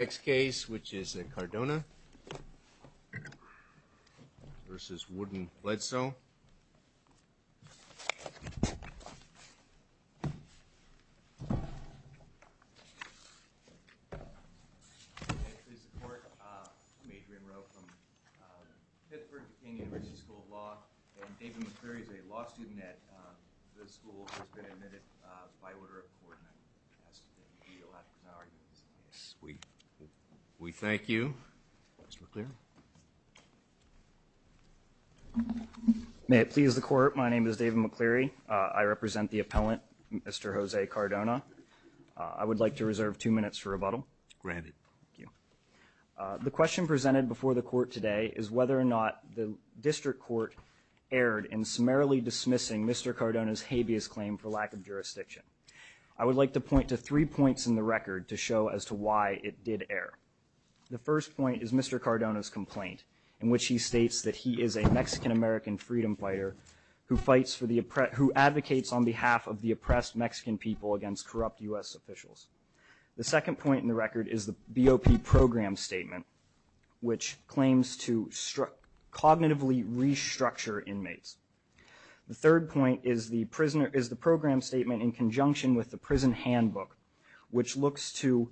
Next case, which is the Cardona v. Wooden-Bledsoe. This is the Court. I'm Adrian Rowe from Pittsburgh Duquesne University School of Law, and David McCreary is a law student at the school who has been admitted by order of court, and I ask that you yield after his argument. We thank you. Mr. McCreary. May it please the Court, my name is David McCreary. I represent the appellant, Mr. Jose Cardona. I would like to reserve two minutes for rebuttal. Granted. The question presented before the Court today is whether or not the District Court erred in summarily dismissing Mr. Cardona's habeas claim for lack of jurisdiction. I would like to point to three points in the record to show as to why it did err. The first point is Mr. Cardona's complaint, in which he states that he is a Mexican-American freedom fighter who advocates on behalf of the oppressed Mexican people against corrupt U.S. officials. The second point in the record is the BOP program statement, which claims to cognitively restructure inmates. The third point is the program statement in conjunction with the prison handbook, which looks to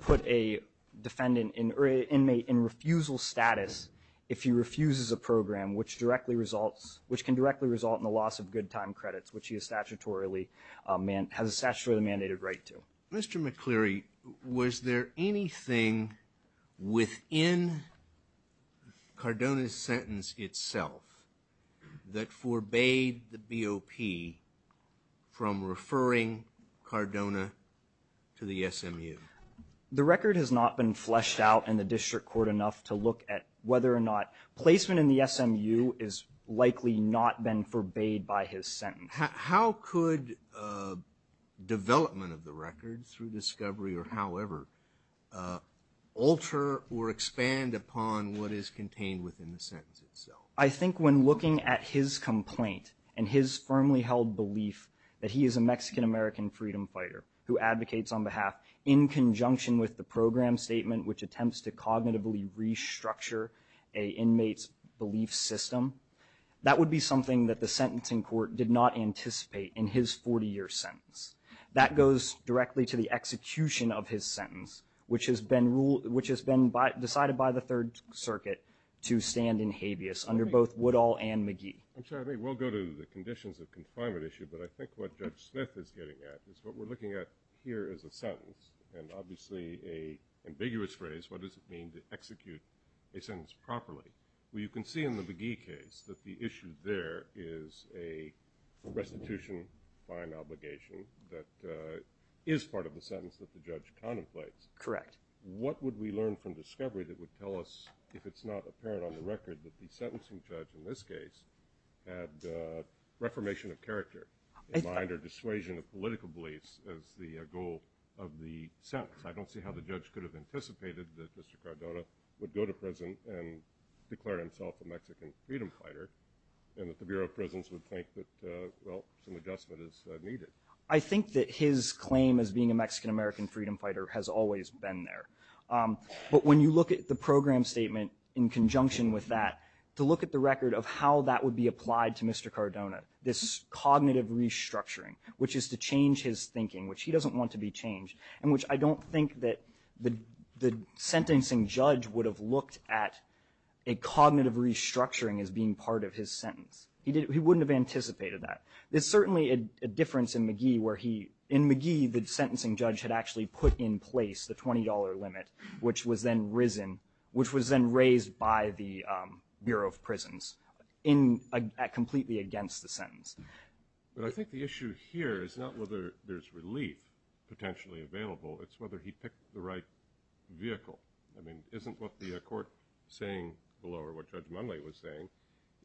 put an inmate in refusal status if he refuses a program, which can directly result in the loss of good time credits, which he has a statutorily mandated right to. Mr. McCleary, was there anything within Cardona's sentence itself that forbade the BOP from referring Cardona to the SMU? The record has not been fleshed out in the District Court enough to look at whether or not placement in the SMU has likely not been forbade by his sentence. How could development of the record through discovery or however alter or expand upon what is contained within the sentence itself? I think when looking at his complaint and his firmly held belief that he is a Mexican-American freedom fighter who advocates on behalf in conjunction with the program statement, which attempts to cognitively restructure an inmate's belief system, that would be something that the sentencing court did not anticipate in his 40-year sentence. That goes directly to the execution of his sentence, which has been decided by the Third Circuit to stand in habeas under both Woodall and McGee. I'm sorry. We'll go to the conditions of confinement issue, but I think what Judge Smith is getting at is what we're looking at here is a sentence, and obviously an ambiguous phrase. What does it mean to execute a sentence properly? Well, you can see in the McGee case that the issue there is a restitution by an obligation that is part of the sentence that the judge contemplates. Correct. What would we learn from discovery that would tell us, if it's not apparent on the record, that the sentencing judge in this case had reformation of character in mind or dissuasion of political beliefs as the goal of the sentence? I don't see how the judge could have anticipated that Mr. Cardona would go to prison and declare himself a Mexican freedom fighter and that the Bureau of Prisons would think that, well, some adjustment is needed. I think that his claim as being a Mexican-American freedom fighter has always been there. But when you look at the program statement in conjunction with that, to look at the record of how that would be applied to Mr. Cardona, this cognitive restructuring, which is to change his thinking, which he doesn't want to be changed, and which I don't think that the sentencing judge would have looked at a cognitive restructuring as being part of his sentence. He wouldn't have anticipated that. There's certainly a difference in McGee where he, in McGee, the sentencing judge had actually put in place the $20 limit, which was then raised by the Bureau of Prisons completely against the sentence. But I think the issue here is not whether there's relief potentially available. It's whether he picked the right vehicle. I mean, isn't what the court saying below, or what Judge Munley was saying,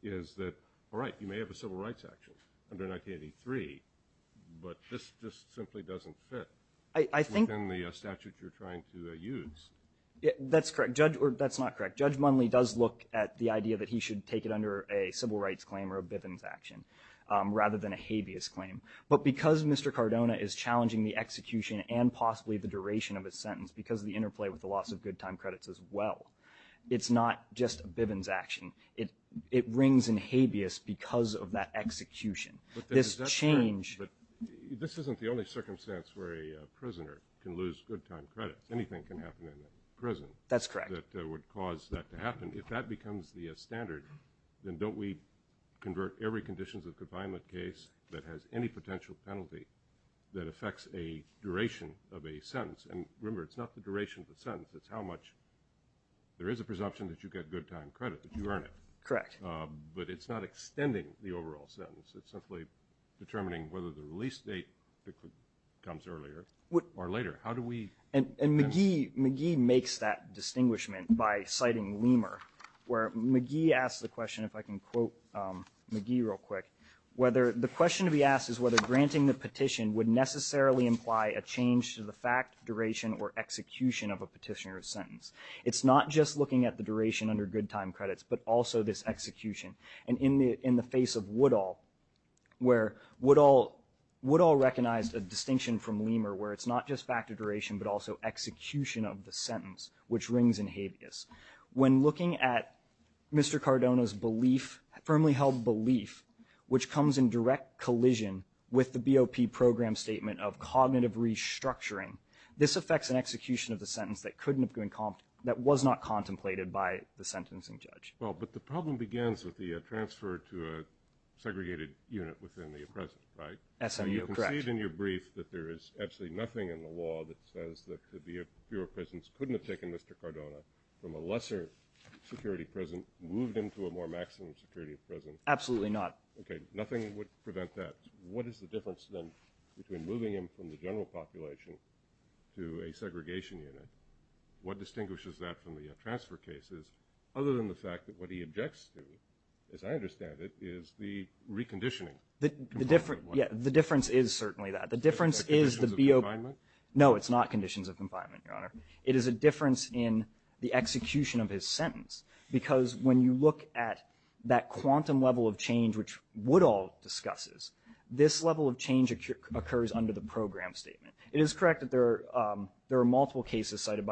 is that, all right, you may have a civil rights action under 1983, but this just simply doesn't fit within the statute you're trying to use. That's correct. That's not correct. Judge Munley does look at the idea that he should take it under a civil rights claim or a Bivens action rather than a habeas claim. But because Mr. Cardona is challenging the execution and possibly the duration of his sentence because of the interplay with the loss of good time credits as well, it's not just a Bivens action. It rings in habeas because of that execution. This change- But this isn't the only circumstance where a prisoner can lose good time credits. Anything can happen in a prison. That's correct. That would cause that to happen. If that becomes the standard, then don't we convert every conditions of confinement case that has any potential penalty that affects a duration of a sentence? And remember, it's not the duration of the sentence, it's how much there is a presumption that you get good time credit, that you earn it. Correct. But it's not extending the overall sentence. It's simply determining whether the release date comes earlier or later. How do we- And McGee makes that distinguishment by citing Lemur, where McGee asks the question, if I can quote McGee real quick, whether the question to be asked is whether granting the petition would necessarily imply a change to the fact, duration, or execution of a petitioner's sentence. It's not just looking at the duration under good time credits, but also this execution. And in the face of Woodall, where Woodall recognized a distinction from Lemur where it's not just factor duration, but also execution of the sentence, which rings in habeas. When looking at Mr. Cardona's belief, firmly held belief, which comes in direct collision with the BOP program statement of cognitive restructuring, this affects an execution of the sentence that was not contemplated by the sentencing judge. Well, but the problem begins with the transfer to a segregated unit within the present, right? SMU, correct. I see it in your brief that there is absolutely nothing in the law that says that the Bureau of Prisons couldn't have taken Mr. Cardona from a lesser security prison, moved him to a more maximum security prison. Absolutely not. Okay. Nothing would prevent that. What is the difference then between moving him from the general population to a segregation unit? What distinguishes that from the transfer cases, other than the fact that what he objects to, as I understand it, is the reconditioning. The difference is certainly that. The difference is the BOP. No, it's not conditions of confinement, Your Honor. It is a difference in the execution of his sentence, because when you look at that quantum level of change which Woodall discusses, this level of change occurs under the program statement. It is correct that there are multiple cases cited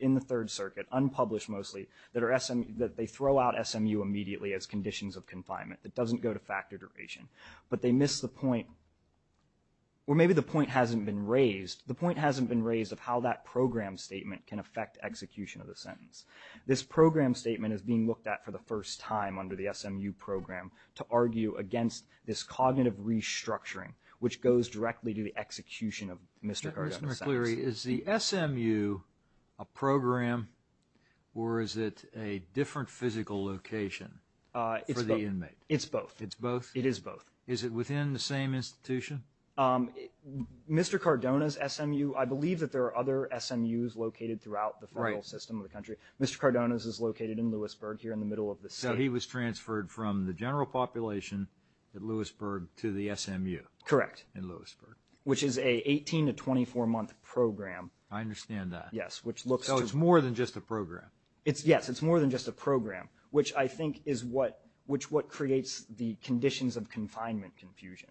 in the Third Circuit, unpublished mostly, that they throw out SMU immediately as conditions of confinement. It doesn't go to factor duration. But they miss the point, or maybe the point hasn't been raised. The point hasn't been raised of how that program statement can affect execution of the sentence. This program statement is being looked at for the first time under the SMU program to argue against this cognitive restructuring, which goes directly to the execution of Mr. Cardona's sentence. Just to be clear, is the SMU a program, or is it a different physical location for the inmate? It's both. It's both? It is both. Is it within the same institution? Mr. Cardona's SMU, I believe that there are other SMUs located throughout the federal system of the country. Mr. Cardona's is located in Lewisburg, here in the middle of the state. So he was transferred from the general population at Lewisburg to the SMU in Lewisburg. Correct. Which is a 18- to 24-month program. I understand that. Yes, which looks to— So it's more than just a program. Yes, it's more than just a program, which I think is what creates the conditions of confinement confusion.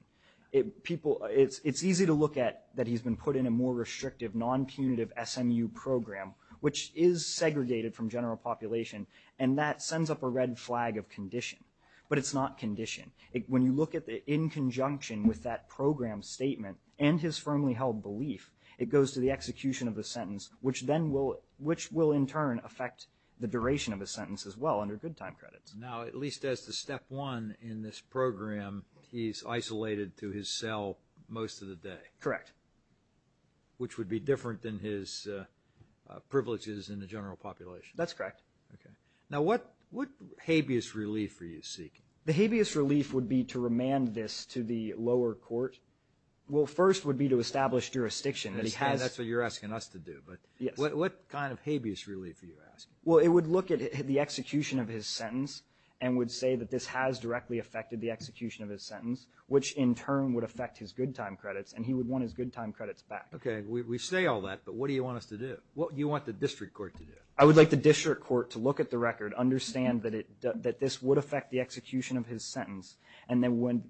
It's easy to look at that he's been put in a more restrictive, non-punitive SMU program, which is segregated from general population, and that sends up a red flag of condition. But it's not condition. When you look at it in conjunction with that program statement and his firmly held belief, it goes to the execution of a sentence, which then will—which will, in turn, affect the duration of a sentence as well under good time credits. Now, at least as the step one in this program, he's isolated to his cell most of the day. Correct. Which would be different than his privileges in the general population. That's correct. Okay. Now, what habeas relief are you seeking? The habeas relief would be to remand this to the lower court. Well, first would be to establish jurisdiction that he has— That's what you're asking us to do. Yes. But what kind of habeas relief are you asking? Well, it would look at the execution of his sentence and would say that this has directly affected the execution of his sentence, which in turn would affect his good time credits, and he would want his good time credits back. Okay. We say all that, but what do you want us to do? What do you want the district court to do? I would like the district court to look at the record, understand that this would affect the execution of his sentence, and then when—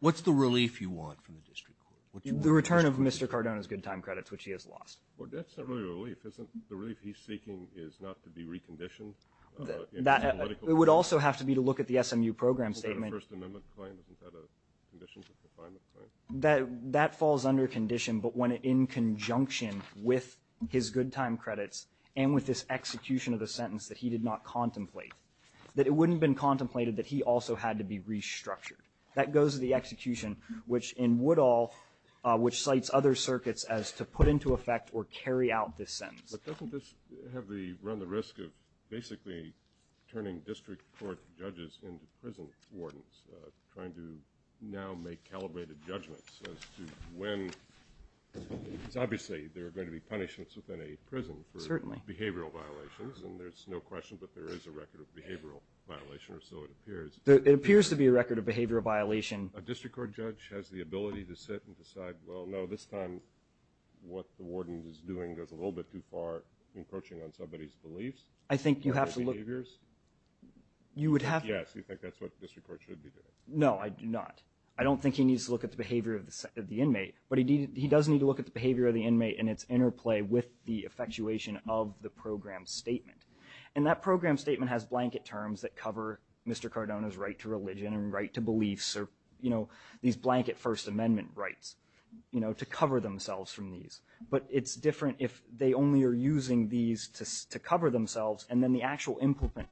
What's the relief you want from the district court? The return of Mr. Cardona's good time credits, which he has lost. Well, that's not really relief, isn't it? The relief he's seeking is not to be reconditioned? It would also have to be to look at the SMU program statement. Isn't that a First Amendment claim? Isn't that a condition for a confinement claim? That falls under condition, but in conjunction with his good time credits and with this execution of the sentence that he did not contemplate, that it wouldn't have been contemplated that he also had to be restructured. That goes to the execution, which in Woodall, which cites other circuits as to put into effect or carry out this sentence. But doesn't this run the risk of basically turning district court judges into prison wardens, trying to now make calibrated judgments as to when? Obviously, there are going to be punishments within a prison for behavioral violations, and there's no question, but there is a record of behavioral violation, or so it appears. It appears to be a record of behavioral violation. A district court judge has the ability to sit and decide, well, no, this time what the warden is doing goes a little bit too far, encroaching on somebody's beliefs? I think you have to look— Or behaviors? You would have to— Yes, you think that's what district court should be doing. No, I do not. I don't think he needs to look at the behavior of the inmate, but he does need to look at the behavior of the inmate and its interplay with the effectuation of the program statement. And that program statement has blanket terms that cover Mr. Cardona's right to religion and right to beliefs or, you know, these blanket First Amendment rights, you know, to cover themselves from these. But it's different if they only are using these to cover themselves, and then the actual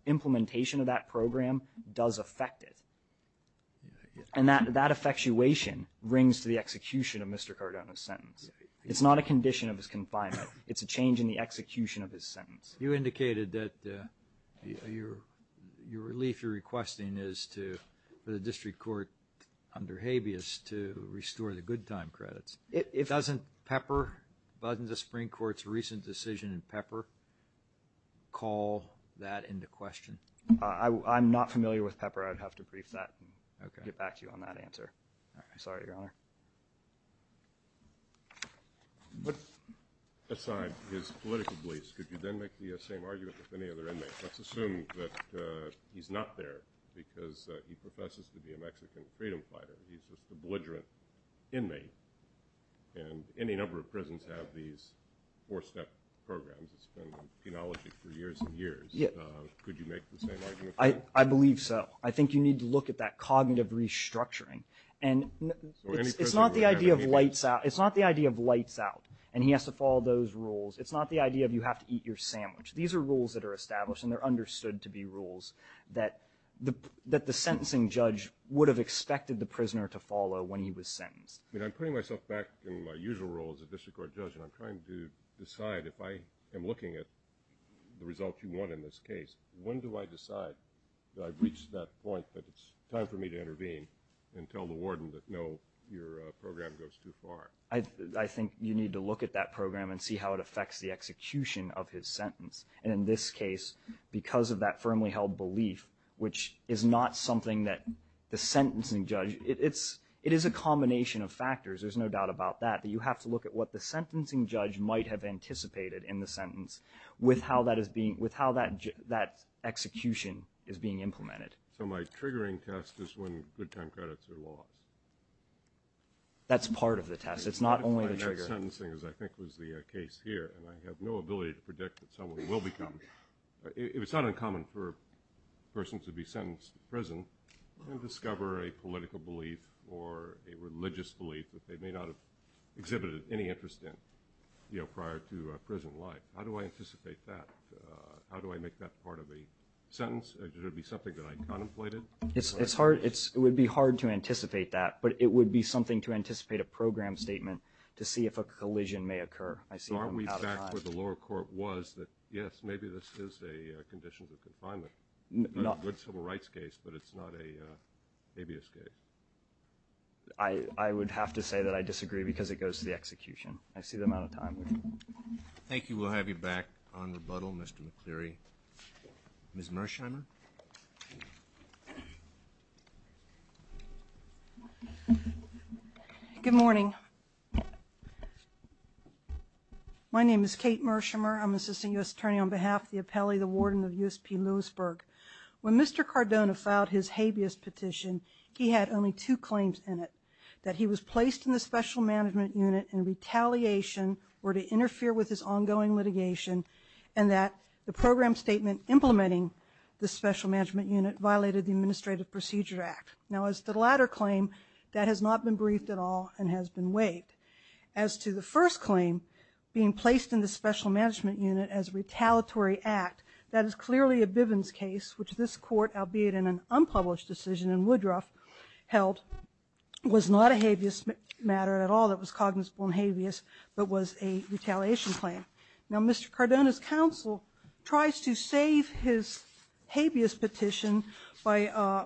implementation of that program does affect it. And that effectuation rings to the execution of Mr. Cardona's sentence. It's not a condition of his confinement. It's a change in the execution of his sentence. You indicated that your relief you're requesting is for the district court, under habeas, to restore the good time credits. Doesn't Pepper—doesn't the Supreme Court's recent decision in Pepper call that into question? I'm not familiar with Pepper. I'd have to brief that and get back to you on that answer. I'm sorry, Your Honor. Aside his political beliefs, could you then make the same argument with any other inmate? Let's assume that he's not there because he professes to be a Mexican freedom fighter. He's just a belligerent inmate. And any number of prisons have these four-step programs. It's been in penology for years and years. Could you make the same argument for him? I believe so. I think you need to look at that cognitive restructuring. And it's not the idea of lights out, and he has to follow those rules. It's not the idea of you have to eat your sandwich. These are rules that are established, and they're understood to be rules, that the sentencing judge would have expected the prisoner to follow when he was sentenced. I'm putting myself back in my usual role as a district court judge, and I'm trying to decide if I am looking at the results you want in this case. When do I decide that I've reached that point that it's time for me to intervene and tell the warden that, no, your program goes too far? I think you need to look at that program and see how it affects the execution of his sentence. And in this case, because of that firmly held belief, which is not something that the sentencing judge – it is a combination of factors, there's no doubt about that, that you have to look at what the sentencing judge might have anticipated in the sentence with how that execution is being implemented. So my triggering test is when good time credits are lost? That's part of the test. It's not only the trigger. I think the sentencing, as I think was the case here, and I have no ability to predict what someone will become. It's not uncommon for a person to be sentenced to prison and discover a political belief or a religious belief that they may not have exhibited any interest in prior to prison life. How do I anticipate that? How do I make that part of a sentence? Would it be something that I contemplated? It would be hard to anticipate that, but it would be something to anticipate a program statement to see if a collision may occur. So aren't we back where the lower court was that, yes, maybe this is a condition of confinement? A good civil rights case, but it's not an habeas case. I would have to say that I disagree because it goes to the execution. I see the amount of time. Thank you. We'll have you back on rebuttal, Mr. McCleary. Ms. Mersheimer. Good morning. My name is Kate Mersheimer. I'm an assistant U.S. attorney on behalf of the appellee, the warden of USP Lewisburg. When Mr. Cardona filed his habeas petition, he had only two claims in it, that he was placed in the special management unit in retaliation or to interfere with his ongoing litigation and that the program statement implementing the special management unit violated the Administrative Procedure Act. Now, as to the latter claim, that has not been briefed at all and has been waived. As to the first claim, being placed in the special management unit as a retaliatory act, that is clearly a Bivens case, which this court, albeit in an unpublished decision in Woodruff, held, was not a habeas matter at all. It was cognizable and habeas, but was a retaliation claim. Now, Mr. Cardona's counsel tries to save his habeas petition by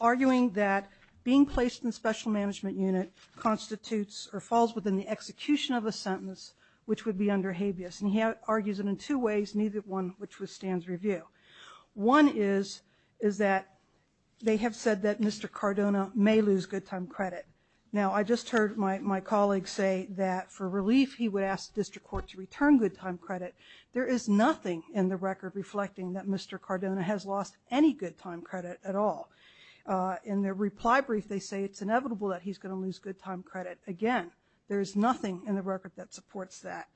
arguing that being placed in the special management unit constitutes or falls within the execution of a sentence which would be under habeas. And he argues it in two ways, neither one which withstands review. One is that they have said that Mr. Cardona may lose good time credit. Now, I just heard my colleague say that for relief, he would ask the district court to return good time credit. There is nothing in the record reflecting that Mr. Cardona has lost any good time credit at all. In their reply brief, they say it's inevitable that he's going to lose good time credit. Again, there is nothing in the record that supports that.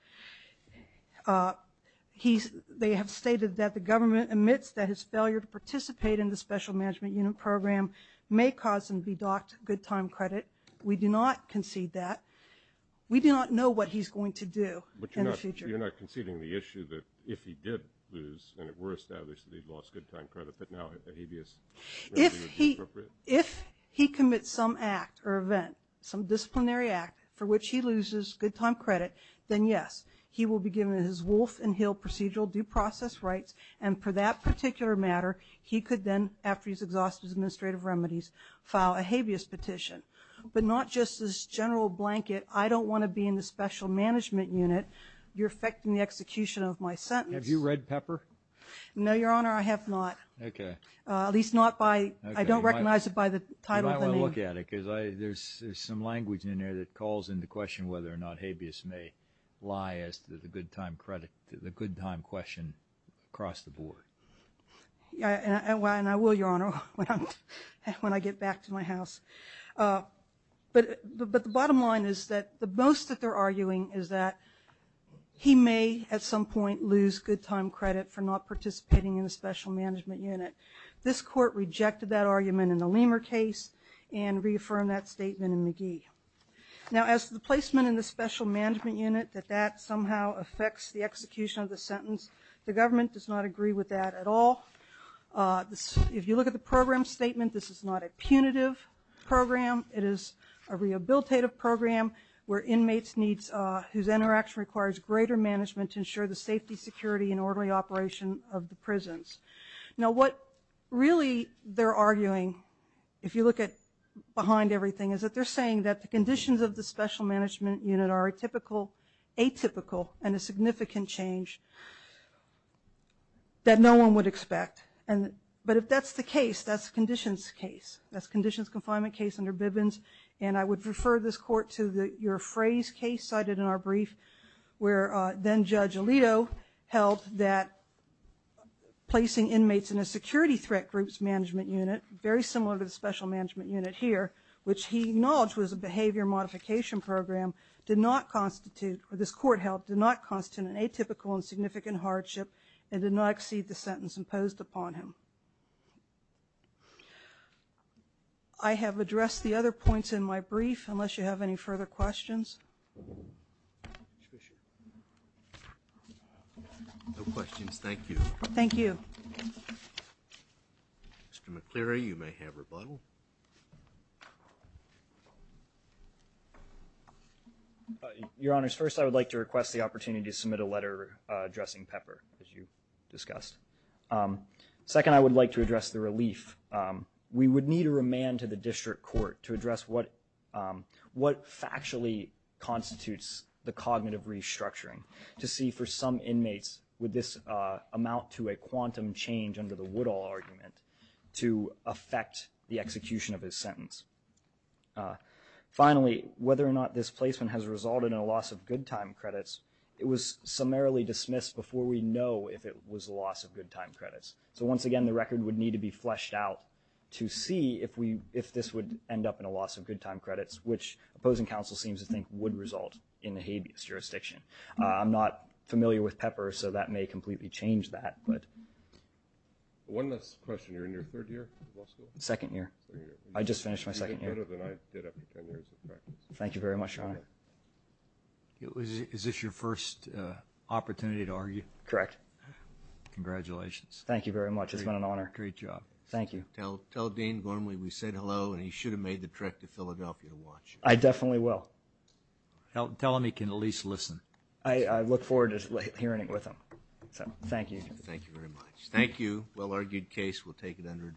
They have stated that the government admits that his failure to participate in the special management unit program may cause him to be docked good time credit. We do not concede that. We do not know what he's going to do in the future. But you're not conceding the issue that if he did lose, and it were established that he'd lost good time credit, that now a habeas remedy would be appropriate? If he commits some act or event, some disciplinary act for which he loses good time credit, then yes, he will be given his Wolf and Hill procedural due process rights, and for that particular matter, he could then, after he's exhausted his administrative remedies, file a habeas petition. But not just this general blanket, I don't want to be in the special management unit, you're affecting the execution of my sentence. Have you read Pepper? No, Your Honor, I have not. Okay. At least not by, I don't recognize it by the title of the name. You might want to look at it because there's some language in there that calls into question whether or not across the board. And I will, Your Honor, when I get back to my house. But the bottom line is that the boast that they're arguing is that he may, at some point, lose good time credit for not participating in the special management unit. This court rejected that argument in the Lehmer case and reaffirmed that statement in McGee. Now, as to the placement in the special management unit, that that somehow affects the execution of the sentence, the government does not agree with that at all. If you look at the program statement, this is not a punitive program. It is a rehabilitative program where inmates need, whose interaction requires greater management to ensure the safety, security, and orderly operation of the prisons. Now, what really they're arguing, if you look behind everything, is that they're saying that the conditions of the special management unit are atypical and a significant change that no one would expect. But if that's the case, that's conditions case. That's conditions confinement case under Bivens. And I would refer this court to your phrase case cited in our brief where then-Judge Alito held that placing inmates in a security threat group's management unit, very similar to the special management unit here, which he acknowledged was a behavior modification program, did not constitute, or this court held, did not constitute an atypical and significant hardship and did not exceed the sentence imposed upon him. I have addressed the other points in my brief, unless you have any further questions. No questions, thank you. Thank you. Mr. McCleary, you may have rebuttal. Your Honors, first I would like to request the opportunity to submit a letter addressing Pepper, as you discussed. Second, I would like to address the relief. We would need a remand to the district court to address what factually constitutes the cognitive restructuring to see for some inmates would this amount to a quantum change under the Woodall argument to affect the execution of his sentence. Finally, whether or not this placement has resulted in a loss of good time credits, it was summarily dismissed before we know if it was a loss of good time credits. So once again, the record would need to be fleshed out to see if this would end up in a loss of good time credits, which opposing counsel seems to think would result in the habeas jurisdiction. I'm not familiar with Pepper, so that may completely change that. One last question. You're in your third year of law school? Second year. I just finished my second year. You did better than I did after ten years of practice. Thank you very much, Your Honor. Is this your first opportunity to argue? Correct. Congratulations. Thank you very much. It's been an honor. Great job. Thank you. Tell Dean Gormley we said hello, and he should have made the trek to Philadelphia to watch. I definitely will. Tell him he can at least listen. I look forward to hearing it with him. Thank you. Thank you very much. Thank you. Well-argued case. We'll take it under advisement. Thank you.